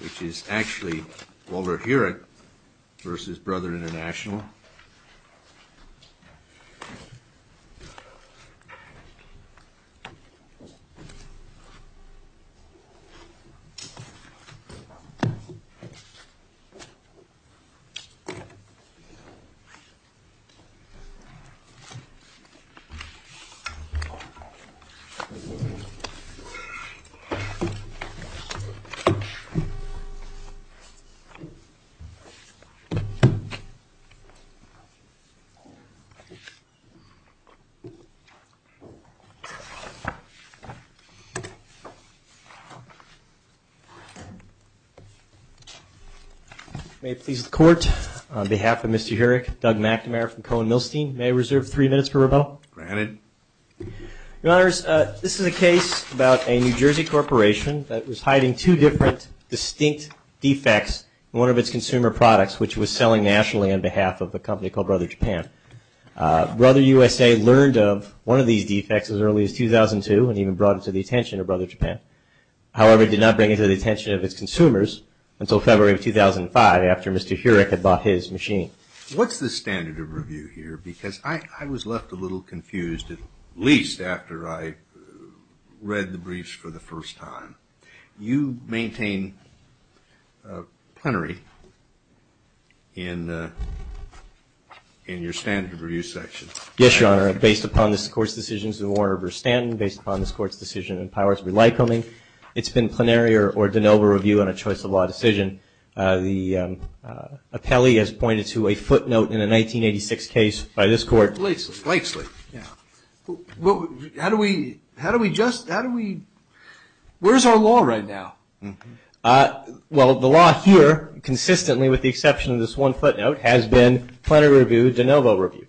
which is actually Walter Huryk versus Brother International. May it please the Court, on behalf of Mr. Huryk, Doug McNamara from Cohen-Milstein, may I reserve three minutes for rebuttal? Granted. Your Honors, this is a case about a New Jersey corporation that was hiding two different distinct defects in one of its consumer products which was selling nationally on behalf of a company called Brother Japan. Brother USA learned of one of these defects as early as 2002 and even brought it to the attention of Brother Japan. However, it did not bring it to the attention of its consumers until February of 2005 after Mr. Huryk had bought his machine. What's the standard of review here because I was left a little confused at least after I read the briefs for the first time. You maintain plenary in your standard of review section. Yes, Your Honor. Based upon this Court's decisions in Warner v. Stanton, based upon this Court's decision in Powers v. Lycoming, it's been plenary or de novo review on a choice of law decision. The appellee has pointed to a footnote in a 1986 case by this Court. Blakeslee. Yeah. How do we just, how do we, where's our law right now? Well, the law here consistently with the exception of this one footnote has been plenary review, de novo review.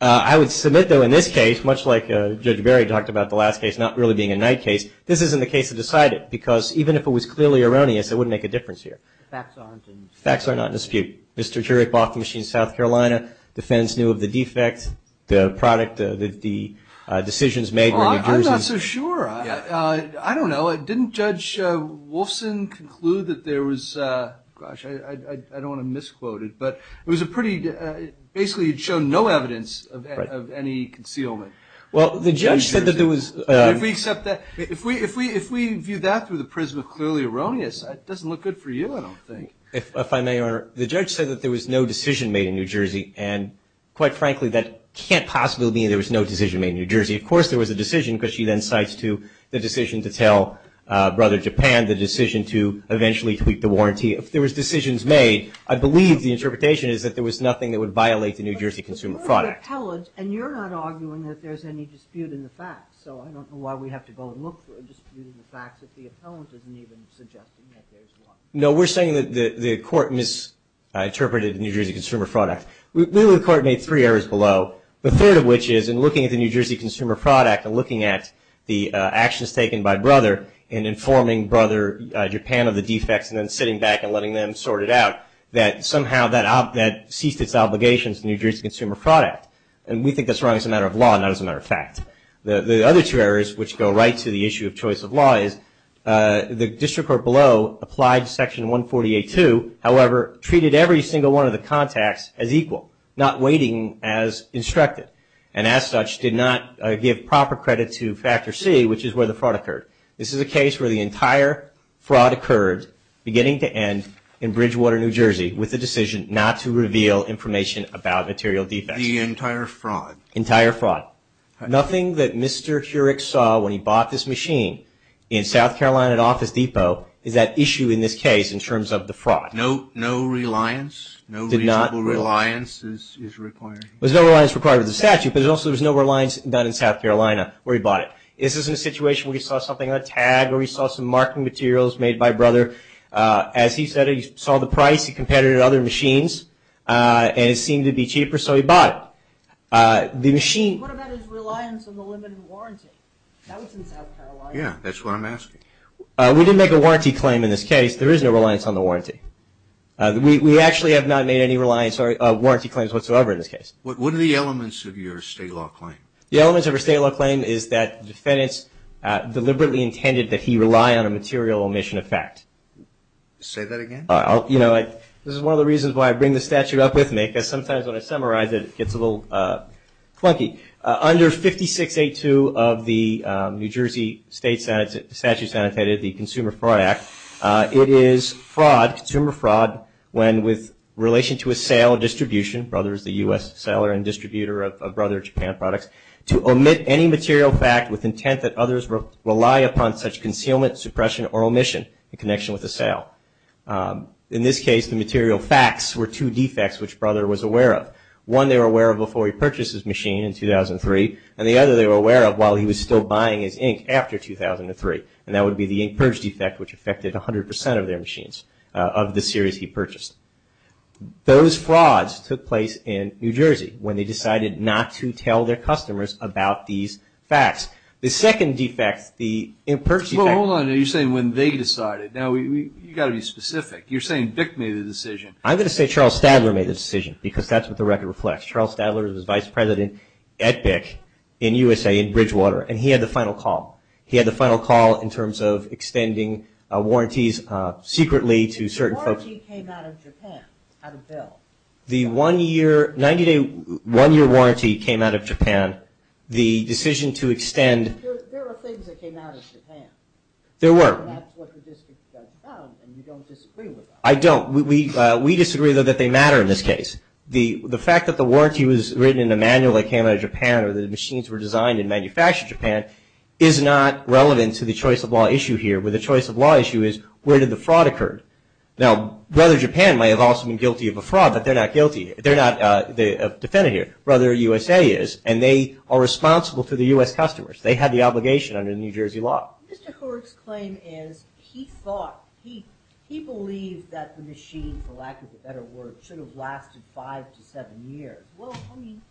I would submit though in this case much like Judge Berry talked about the last case not really being a night case, this isn't the case to decide it because even if it was clearly erroneous, it wouldn't make a difference here. Facts aren't in dispute. Facts are not in dispute. Mr. Huryk bought the machine in South Carolina, defense knew of the defect, the product, the decisions made in New Jersey. Well, I'm not so sure. I don't know. Didn't Judge Wolfson conclude that there was, gosh, I don't want to misquote it, but it was a pretty, basically it showed no evidence of any concealment. Well, the judge said that there was. If we view that through the prism of clearly erroneous, it doesn't look good for you I don't think. If I may, Your Honor, the judge said that there was no decision made in New Jersey and quite frankly that can't possibly mean there was no decision made in New Jersey. Of course there was a decision because she then cites to the decision to tell Brother Japan, the decision to eventually tweak the warranty. If there was decisions made, I believe the interpretation is that there was nothing that would violate the New Jersey Consumer Fraud Act. And you're not arguing that there's any dispute in the facts, so I don't know why we have to go and look for a dispute in the facts if the appellant isn't even suggesting that there's one. No, we're saying that the court misinterpreted the New Jersey Consumer Fraud Act. We believe the court made three errors below, the third of which is in looking at the New Jersey Consumer Fraud Act and looking at the actions taken by Brother and informing Brother Japan of the defects and then sitting back and letting them sort it out, that somehow that ceased its obligations to the New Jersey Consumer Fraud Act. And we think that's wrong as a matter of law, not as a matter of fact. The other two errors, which go right to the issue of choice of law, is the district court below applied Section 148.2, however treated every single one of the contacts as equal, not weighting as instructed and as such did not give proper credit to Factor C, which is where the fraud occurred. This is a case where the entire fraud occurred beginning to end in Bridgewater, New Jersey with the decision not to reveal information about material defects. The entire fraud? Entire fraud. Nothing that Mr. Heurich saw when he bought this machine in South Carolina at Office Depot is at issue in this case in terms of the fraud. No reliance? No reasonable reliance is required? There's no reliance required with the statute, but also there's no reliance done in South Carolina where he bought it. This isn't a situation where he saw something on a tag or he saw some marketing materials made by Brother. As he said, he saw the price, he competed at other machines, and it seemed to be cheaper, so he bought it. What about his reliance on the limited warranty? That was in South Carolina. Yeah, that's what I'm asking. We didn't make a warranty claim in this case. There is no reliance on the warranty. We actually have not made any warranty claims whatsoever in this case. What are the elements of your state law claim? The elements of our state law claim is that defendants deliberately intended that he rely on a material omission effect. Say that again? You know, this is one of the reasons why I bring the statute up with me because sometimes when I summarize it, it gets a little clunky. Under 56A2 of the New Jersey State Statute Sanitated, the Consumer Fraud Act, it is fraud, consumer fraud, when with relation to a sale or distribution, Brother is the U.S. seller and distributor of Brother Japan products, to omit any material fact with intent that others rely upon such concealment, suppression, or omission in connection with the sale. In this case, the material facts were two defects which Brother was aware of. One they were aware of before he purchased his machine in 2003, and the other they were aware of while he was still buying his ink after 2003, and that would be the ink purge defect, which affected 100% of their machines of the series he purchased. Those frauds took place in New Jersey when they decided not to tell their customers about these facts. The second defect, the ink purge defect. Well, hold on. You're saying when they decided. Now, you've got to be specific. You're saying Bick made the decision. I'm going to say Charles Stadler made the decision because that's what the record reflects. Charles Stadler was Vice President at Bick in USA, in Bridgewater, and he had the final call. He had the final call in terms of extending warranties secretly to certain folks. The machine came out of Japan, out of Bell. The one-year, 90-day, one-year warranty came out of Japan. The decision to extend. There are things that came out of Japan. There were. And that's what the district has done, and you don't disagree with that. I don't. We disagree, though, that they matter in this case. The fact that the warranty was written in a manual that came out of Japan or the machines were designed and manufactured in Japan is not relevant to the choice of law issue here, where the choice of law issue is, where did the fraud occur? Now, Brother Japan may have also been guilty of a fraud, but they're not guilty. They're not a defendant here. Brother USA is, and they are responsible to the U.S. customers. They had the obligation under New Jersey law. Mr. Couric's claim is he thought, he believed that the machine, for lack of a better word, should have lasted five to seven years. Well, I mean,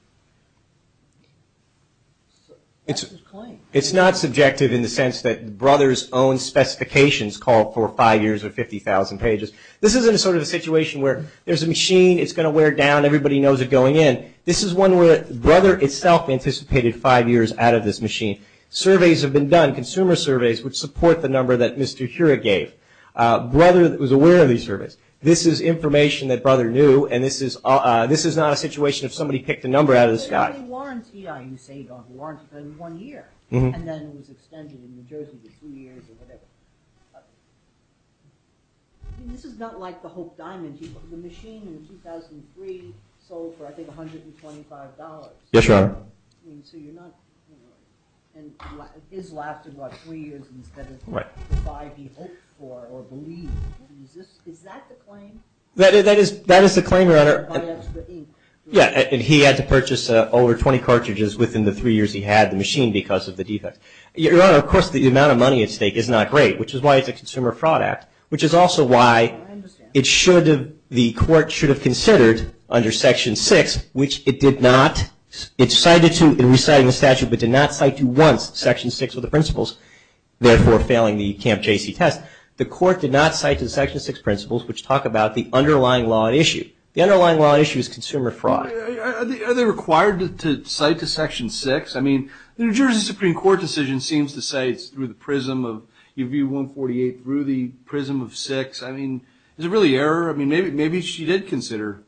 that's his claim. It's not subjective in the sense that Brother's own specifications call for five years or 50,000 pages. This isn't sort of a situation where there's a machine, it's going to wear down, everybody knows it's going in. This is one where Brother itself anticipated five years out of this machine. Surveys have been done, consumer surveys, which support the number that Mr. Couric gave. Brother was aware of these surveys. This is information that Brother knew, and this is not a situation if somebody picked a number out of the sky. The warranty, you say, one year, and then it was extended in New Jersey for three years or whatever. This is not like the Hope Diamond. The machine in 2003 sold for, I think, $125. Yes, Your Honor. So you're not, and it has lasted about three years instead of five, he hoped for or believed. Is that the claim? That is the claim, Your Honor. By extra ink. Yes, and he had to purchase over 20 cartridges within the three years he had the machine because of the defect. Your Honor, of course, the amount of money at stake is not great, which is why it's a Consumer Fraud Act, which is also why it should have, the court should have considered under Section 6, which it did not, it cited to in reciting the statute, but did not cite to once Section 6 of the principles, therefore failing the Camp J.C. test. The court did not cite to the Section 6 principles, which talk about the underlying law at issue. The underlying law at issue is consumer fraud. Are they required to cite to Section 6? I mean, the New Jersey Supreme Court decision seems to say it's through the prism of UV-148 through the prism of 6. I mean, is it really error? I mean, maybe she did consider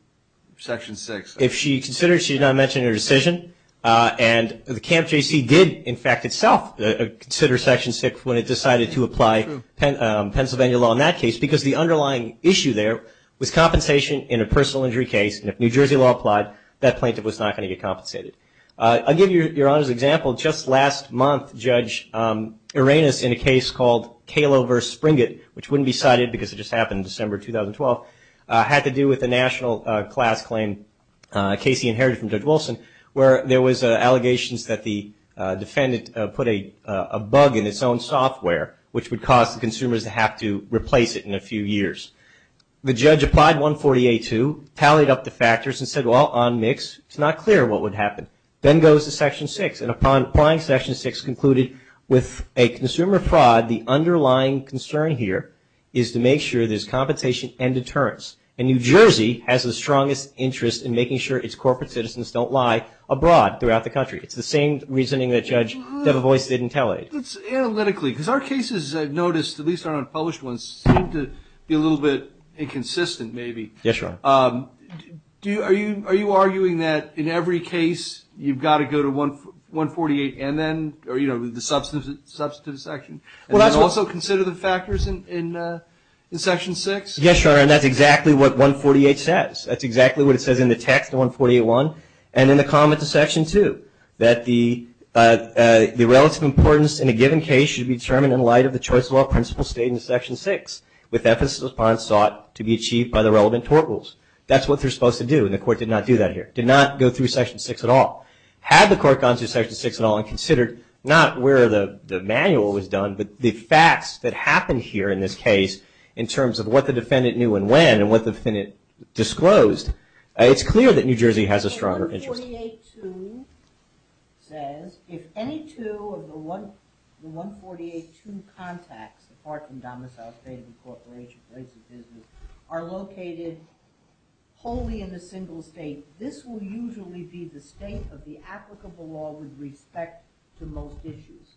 Section 6. If she considered, she did not mention her decision. And the Camp J.C. did, in fact, itself consider Section 6 when it decided to apply Pennsylvania law in that case because the underlying issue there was compensation in a personal injury case, and if New Jersey law applied, that plaintiff was not going to get compensated. I'll give you Your Honor's example. Just last month, Judge Arenas, in a case called Kalo v. Springett, which wouldn't be cited because it just happened in December 2012, had to do with the national class claim Casey inherited from Judge Wilson, where there was allegations that the defendant put a bug in its own software, which would cause the consumers to have to replace it in a few years. The judge applied 148-2, tallied up the factors, and said, well, on mix, it's not clear what would happen. Then goes to Section 6, and upon applying Section 6, concluded with a consumer fraud, the underlying concern here is to make sure there's compensation and deterrence. And New Jersey has the strongest interest in making sure its corporate citizens don't lie abroad throughout the country. It's the same reasoning that Judge Debevoise didn't tally. Analytically, because our cases, as I've noticed, at least our unpublished ones, seem to be a little bit inconsistent, maybe. Yes, Your Honor. Are you arguing that in every case you've got to go to 148 and then, or, you know, the substantive section, and then also consider the factors in Section 6? Yes, Your Honor, and that's exactly what 148 says. That's exactly what it says in the text of 148-1 and in the comments of Section 2, that the relative importance in a given case should be determined in light of the first law principle stated in Section 6, with emphasis upon sought to be achieved by the relevant tort rules. That's what they're supposed to do, and the Court did not do that here, did not go through Section 6 at all. Had the Court gone through Section 6 at all and considered, not where the manual was done, but the facts that happened here in this case in terms of what the defendant knew and when, and what the defendant disclosed, it's clear that New Jersey has a stronger interest. 148-2 says, if any two of the 148-2 contacts, apart from domicile, state of incorporation, place of business, are located wholly in a single state, this will usually be the state of the applicable law with respect to most issues.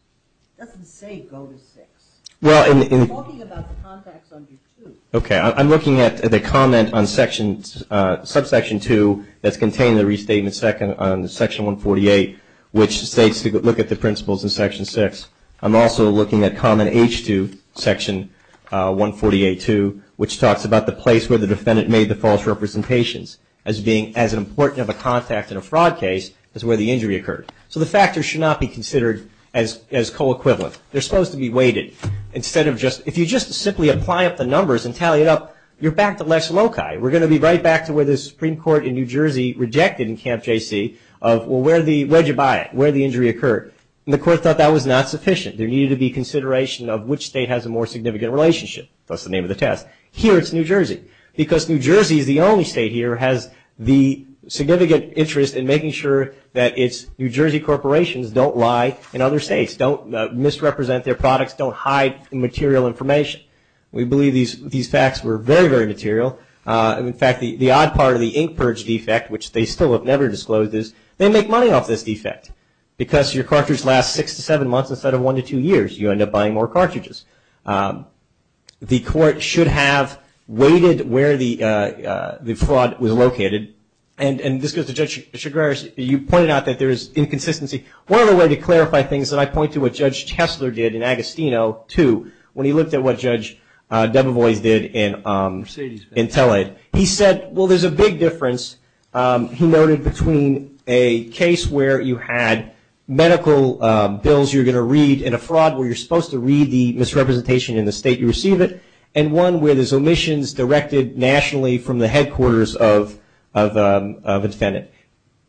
It doesn't say go to six. It's talking about the contacts under two. Okay, I'm looking at the comment on Section, subsection 2 that's contained in the restatement on Section 148, which states to look at the principles in Section 6. I'm also looking at comment H-2, Section 148-2, which talks about the place where the defendant made the false representations as being as important of a contact in a fraud case as where the injury occurred. So the factors should not be considered as co-equivalent. They're supposed to be weighted. If you just simply apply up the numbers and tally it up, you're back to Lex Loci. We're going to be right back to where the Supreme Court in New Jersey rejected in Camp J.C. of where did you buy it, where did the injury occur, and the court thought that was not sufficient. There needed to be consideration of which state has a more significant relationship. That's the name of the test. Here it's New Jersey because New Jersey is the only state here that has the significant interest in making sure that its New Jersey corporations don't lie in other states, don't misrepresent their products, don't hide material information. We believe these facts were very, very material. In fact, the odd part of the ink purge defect, which they still have never disclosed, is they make money off this defect because your cartridge lasts six to seven months instead of one to two years. You end up buying more cartridges. The court should have weighted where the fraud was located. And this goes to Judge Chagraris. You pointed out that there is inconsistency. One other way to clarify things, and I point to what Judge Tessler did in Agostino, too, when he looked at what Judge Debevoise did in Tell-Aid. He said, well, there's a big difference, he noted, between a case where you had medical bills you were going to read in a fraud where you're supposed to read the misrepresentation in the state you receive it and one where there's omissions directed nationally from the headquarters of a defendant.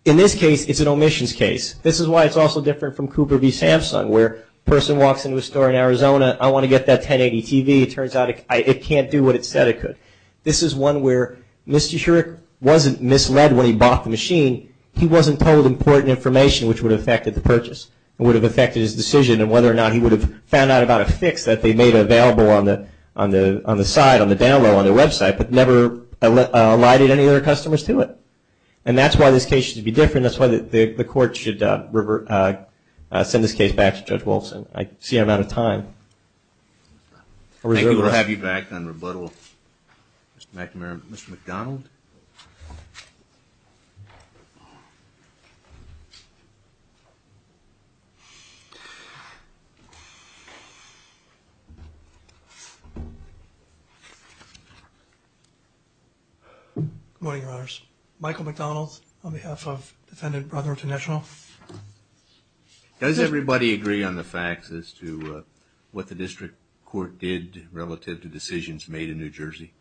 In this case, it's an omissions case. This is why it's also different from Cooper v. Samsung where a person walks into a store in Arizona, I want to get that 1080 TV. It turns out it can't do what it said it could. This is one where Mr. Shurick wasn't misled when he bought the machine. He wasn't told important information which would have affected the purchase and would have affected his decision and whether or not he would have found out about a fix that they made available on the site, on the download, on their website, but never allotted any other customers to it. And that's why this case should be different. That's why the court should send this case back to Judge Wolfson. I see I'm out of time. Thank you. We'll have you back on rebuttal. Mr. McNamara. Mr. McDonald? Good morning, Your Honors. Michael McDonald on behalf of defendant Brotherton National. Does everybody agree on the facts as to what the district court did relative to decisions made in New Jersey?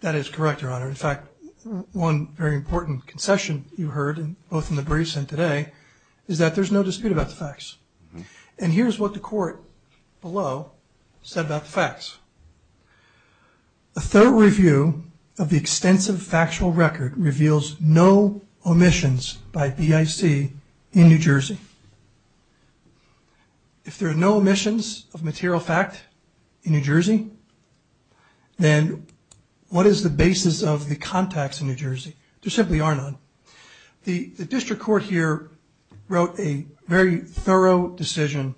That is correct, Your Honor. In fact, one very important concession you heard both in the briefs and today is that there's no dispute about the facts. And here's what the court below said about the facts. A thorough review of the extensive factual record reveals no omissions by BIC in New Jersey. If there are no omissions of material fact in New Jersey, then what is the basis of the contacts in New Jersey? There simply are none. The district court here wrote a very thorough decision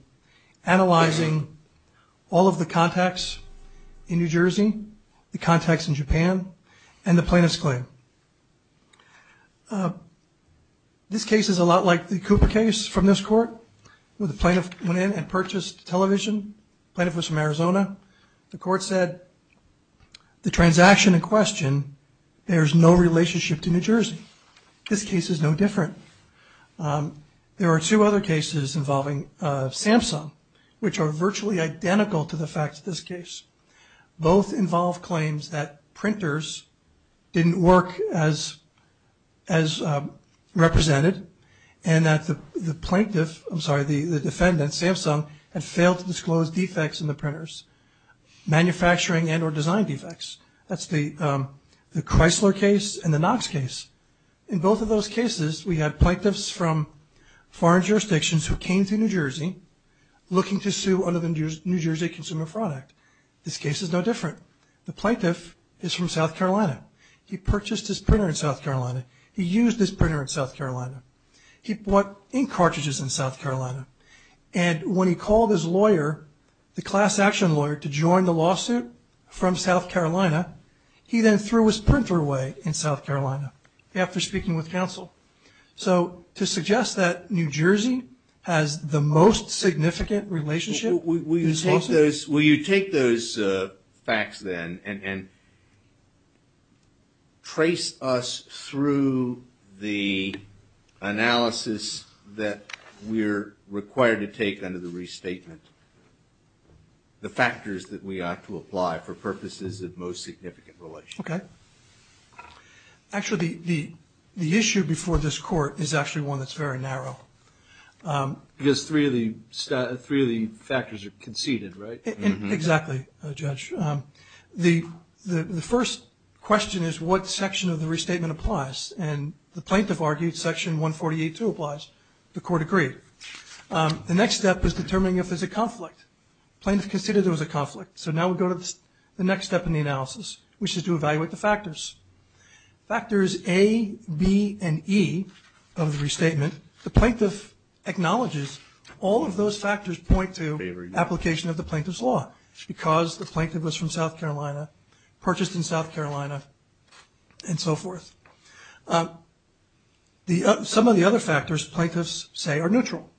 analyzing all of the contacts in New Jersey, the contacts in Japan, and the plaintiff's claim. This case is a lot like the Cooper case from this court where the plaintiff went in and purchased television. The plaintiff was from Arizona. The court said the transaction in question, there's no relationship to New Jersey. This case is no different. There are two other cases involving Samsung, which are virtually identical to the facts of this case. Both involve claims that printers didn't work as represented and that the plaintiff, I'm sorry, the defendant, Samsung, had failed to disclose defects in the printers, manufacturing and or design defects. That's the Chrysler case and the Knox case. In both of those cases, we had plaintiffs from foreign jurisdictions who came to New Jersey looking to sue under the New Jersey Consumer Fraud Act. This case is no different. The plaintiff is from South Carolina. He purchased his printer in South Carolina. He used his printer in South Carolina. He bought ink cartridges in South Carolina. And when he called his lawyer, the class action lawyer, to join the lawsuit from South Carolina, he then threw his printer away in South Carolina after speaking with counsel. So to suggest that New Jersey has the most significant relationship in this lawsuit? Will you take those facts then and trace us through the analysis that we're required to take under the restatement, the factors that we ought to apply for purposes of most significant relationship? Okay. Actually, the issue before this court is actually one that's very narrow. Because three of the factors are conceded, right? Exactly, Judge. The first question is what section of the restatement applies. And the plaintiff argued Section 148-2 applies. The court agreed. The next step is determining if there's a conflict. The plaintiff considered there was a conflict. So now we go to the next step in the analysis, which is to evaluate the factors. Factors A, B, and E of the restatement, the plaintiff acknowledges all of those factors point to application of the plaintiff's law because the plaintiff was from South Carolina, purchased in South Carolina, and so forth. Some of the other factors, plaintiffs say, are neutral.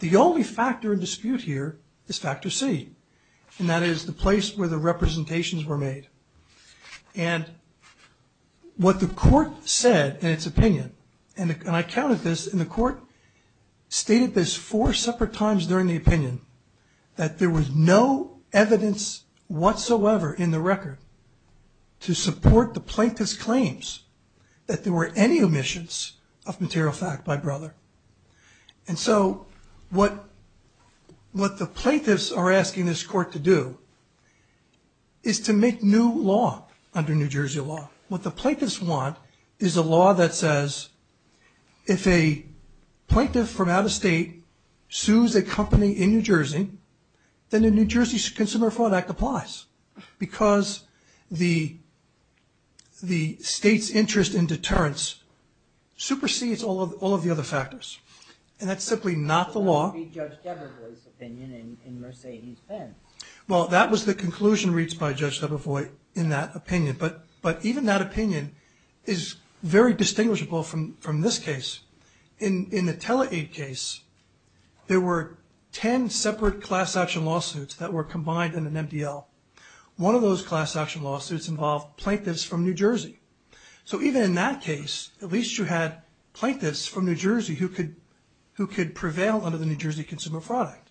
The only factor in dispute here is factor C, and that is the place where the representations were made. And what the court said in its opinion, and I counted this, and the court stated this four separate times during the opinion, that there was no evidence whatsoever in the record to support the plaintiff's claims that there were any omissions of material fact by brother. And so what the plaintiffs are asking this court to do is to make new law under New Jersey law. What the plaintiffs want is a law that says if a plaintiff from out of state sues a company in New Jersey, then the New Jersey Consumer Fraud Act applies because the state's interest in deterrence supersedes all of the other factors. And that's simply not the law. Well, that was the conclusion reached by Judge Debevois in that opinion. But even that opinion is very distinguishable from this case. In the TeleAid case, there were 10 separate class action lawsuits that were combined in an MDL. One of those class action lawsuits involved plaintiffs from New Jersey. So even in that case, at least you had plaintiffs from New Jersey who could prevail under the New Jersey Consumer Fraud Act.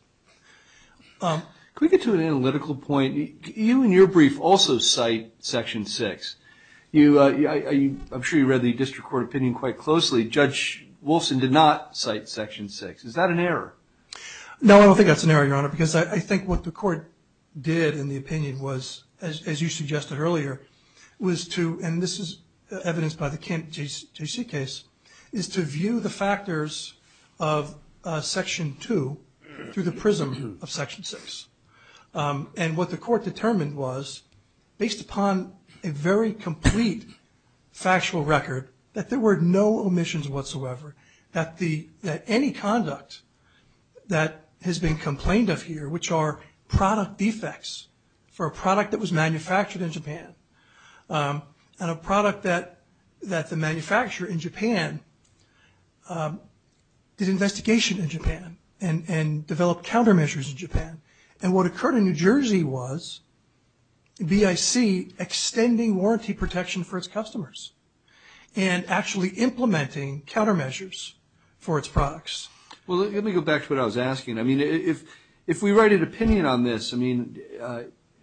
Can we get to an analytical point? You in your brief also cite Section 6. I'm sure you read the district court opinion quite closely. Judge Wolfson did not cite Section 6. Is that an error? No, I don't think that's an error, Your Honor, because I think what the court did in the opinion was, as you suggested earlier, was to, and this is evidenced by the Kent J.C. case, is to view the factors of Section 2 through the prism of Section 6. And what the court determined was, based upon a very complete factual record, that there were no omissions whatsoever, that any conduct that has been complained of here, which are product defects for a product that was manufactured in Japan, and a product that the manufacturer in Japan did investigation in Japan and what occurred in New Jersey was BIC extending warranty protection for its customers and actually implementing countermeasures for its products. Well, let me go back to what I was asking. I mean, if we write an opinion on this, I mean,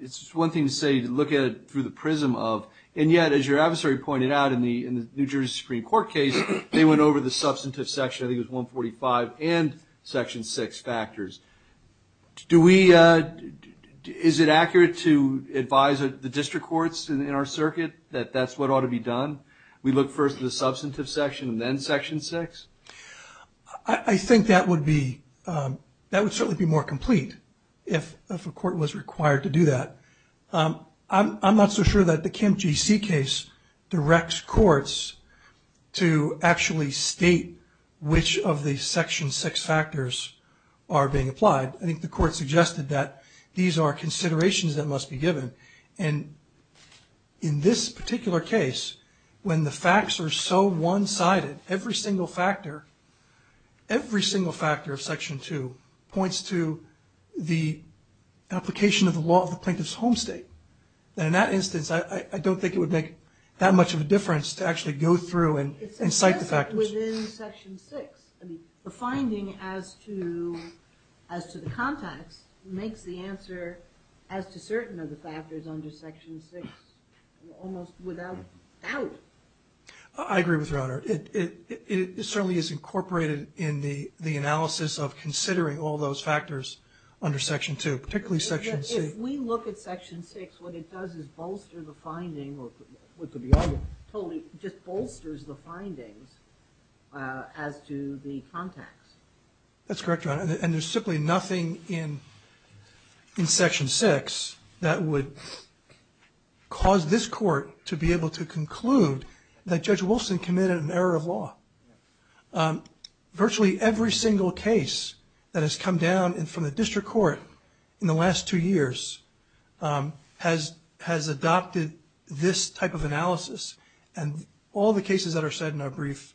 it's one thing to say, to look at it through the prism of, and yet, as your adversary pointed out in the New Jersey Supreme Court case, they went over the substantive section, I think it was 145, and Section 6 factors. Do we, is it accurate to advise the district courts in our circuit that that's what ought to be done? We look first at the substantive section and then Section 6? I think that would be, that would certainly be more complete if a court was required to do that. I'm not so sure that the Kent J.C. case directs courts to actually state which of the Section 6 factors are being applied. I think the court suggested that these are considerations that must be given. And in this particular case, when the facts are so one-sided, every single factor, every single factor of Section 2 points to the application of the law of the plaintiff's home state. And in that instance, I don't think it would make that much of a difference to actually go through and cite the factors. Within Section 6, the finding as to the context makes the answer as to certain of the factors under Section 6 almost without doubt. I agree with you, Your Honor. It certainly is incorporated in the analysis of considering all those factors under Section 2, particularly Section C. If we look at Section 6, what it does is bolster the finding, or what could be other, totally just bolsters the findings as to the context. That's correct, Your Honor. And there's simply nothing in Section 6 that would cause this court to be able to conclude that Judge Wilson committed an error of law. Virtually every single case that has come down from the district court in the last two years has adopted this type of analysis. And all the cases that are said in our brief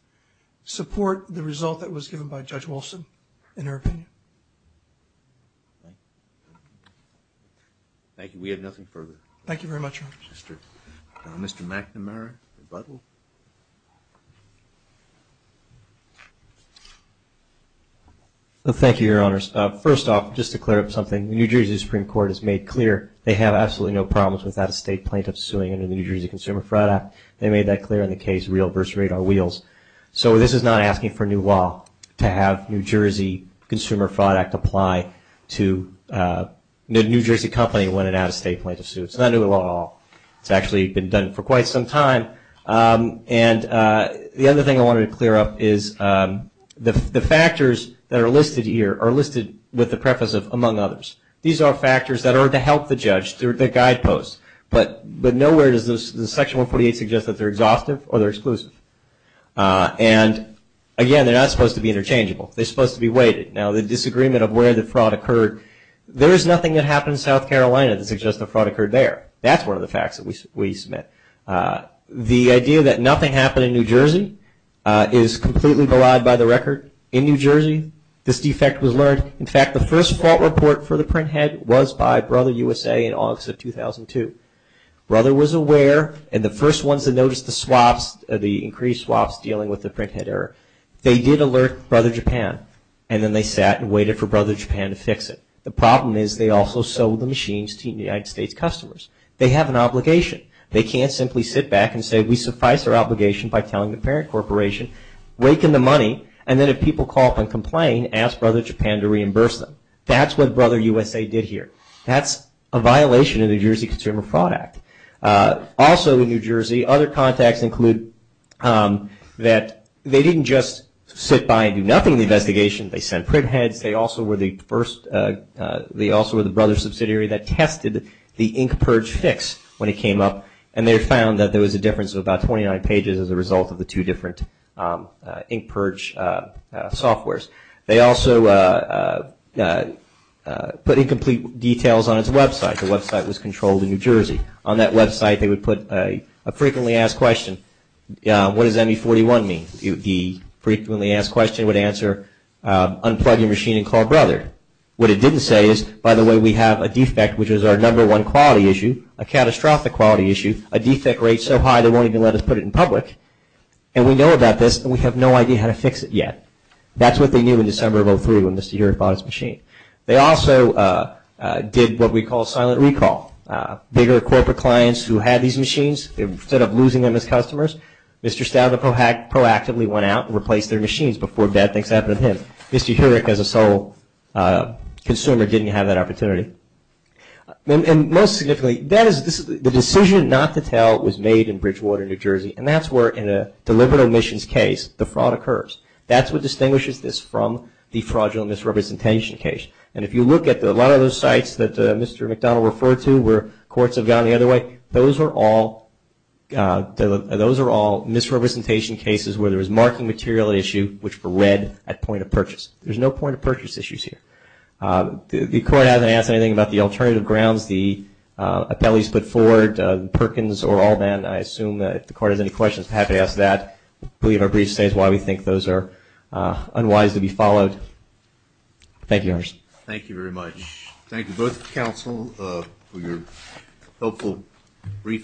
support the result that was given by Judge Wilson in her opinion. Thank you. We have nothing further. Thank you very much, Your Honor. Mr. McNamara, rebuttal? Thank you, Your Honors. First off, just to clear up something, New Jersey Supreme Court has made clear they have absolutely no problems with out-of-state plaintiffs suing under the New Jersey Consumer Fraud Act. They made that clear in the case Real v. Radar Wheels. So this is not asking for new law to have New Jersey Consumer Fraud Act apply to a New Jersey company when an out-of-state plaintiff sued. It's not new law at all. It's actually been done for quite some time. And the other thing I wanted to clear up is the factors that are listed here are listed with the preface of among others. These are factors that are to help the judge through the guideposts. But nowhere does Section 148 suggest that they're exhaustive or they're exclusive. And, again, they're not supposed to be interchangeable. They're supposed to be weighted. Now, the disagreement of where the fraud occurred, there is nothing that happened in South Carolina that suggests the fraud occurred there. That's one of the facts that we submit. The idea that nothing happened in New Jersey is completely belied by the record. In New Jersey, this defect was learned. In fact, the first fault report for the printhead was by Brother USA in August of 2002. Brother was aware. And the first ones that noticed the swaps, the increased swaps dealing with the printhead error, they did alert Brother Japan. And then they sat and waited for Brother Japan to fix it. The problem is they also sold the machines to United States customers. They have an obligation. They can't simply sit back and say we suffice our obligation by telling the parent corporation, rake in the money, and then if people call up and complain, ask Brother Japan to reimburse them. That's what Brother USA did here. That's a violation of the New Jersey Consumer Fraud Act. Also in New Jersey, other contacts include that they didn't just sit by and do nothing in the investigation. They sent printheads. They also were the first, they also were the brother subsidiary that tested the InkPurge fix when it came up. And they found that there was a difference of about 29 pages as a result of the two different InkPurge softwares. They also put incomplete details on its website. The website was controlled in New Jersey. On that website, they would put a frequently asked question, what does ME-41 mean? The frequently asked question would answer unplug your machine and call Brother. What it didn't say is, by the way, we have a defect, which is our number one quality issue, a catastrophic quality issue, a defect rate so high they won't even let us put it in public. And we know about this and we have no idea how to fix it yet. That's what they knew in December of 2003 when Mr. Heurich bought his machine. They also did what we call silent recall. Bigger corporate clients who had these machines, instead of losing them as customers, Mr. Staudter proactively went out and replaced their machines before bad things happened to him. Mr. Heurich as a sole consumer didn't have that opportunity. And most significantly, the decision not to tell was made in Bridgewater, New Jersey. And that's where, in a deliberate omissions case, the fraud occurs. That's what distinguishes this from the fraudulent misrepresentation case. And if you look at a lot of those sites that Mr. McDonald referred to where courts have gone the other way, those are all misrepresentation cases where there is marking material issue, which were read at point of purchase. There's no point of purchase issues here. The court hasn't asked anything about the alternative grounds the appellees put forward, Perkins or Allman. I assume that if the court has any questions, I'm happy to ask that. I believe our brief state is why we think those are unwise to be followed. Thank you, Your Honor. Thank you very much. Thank you both, counsel, for your helpful briefing.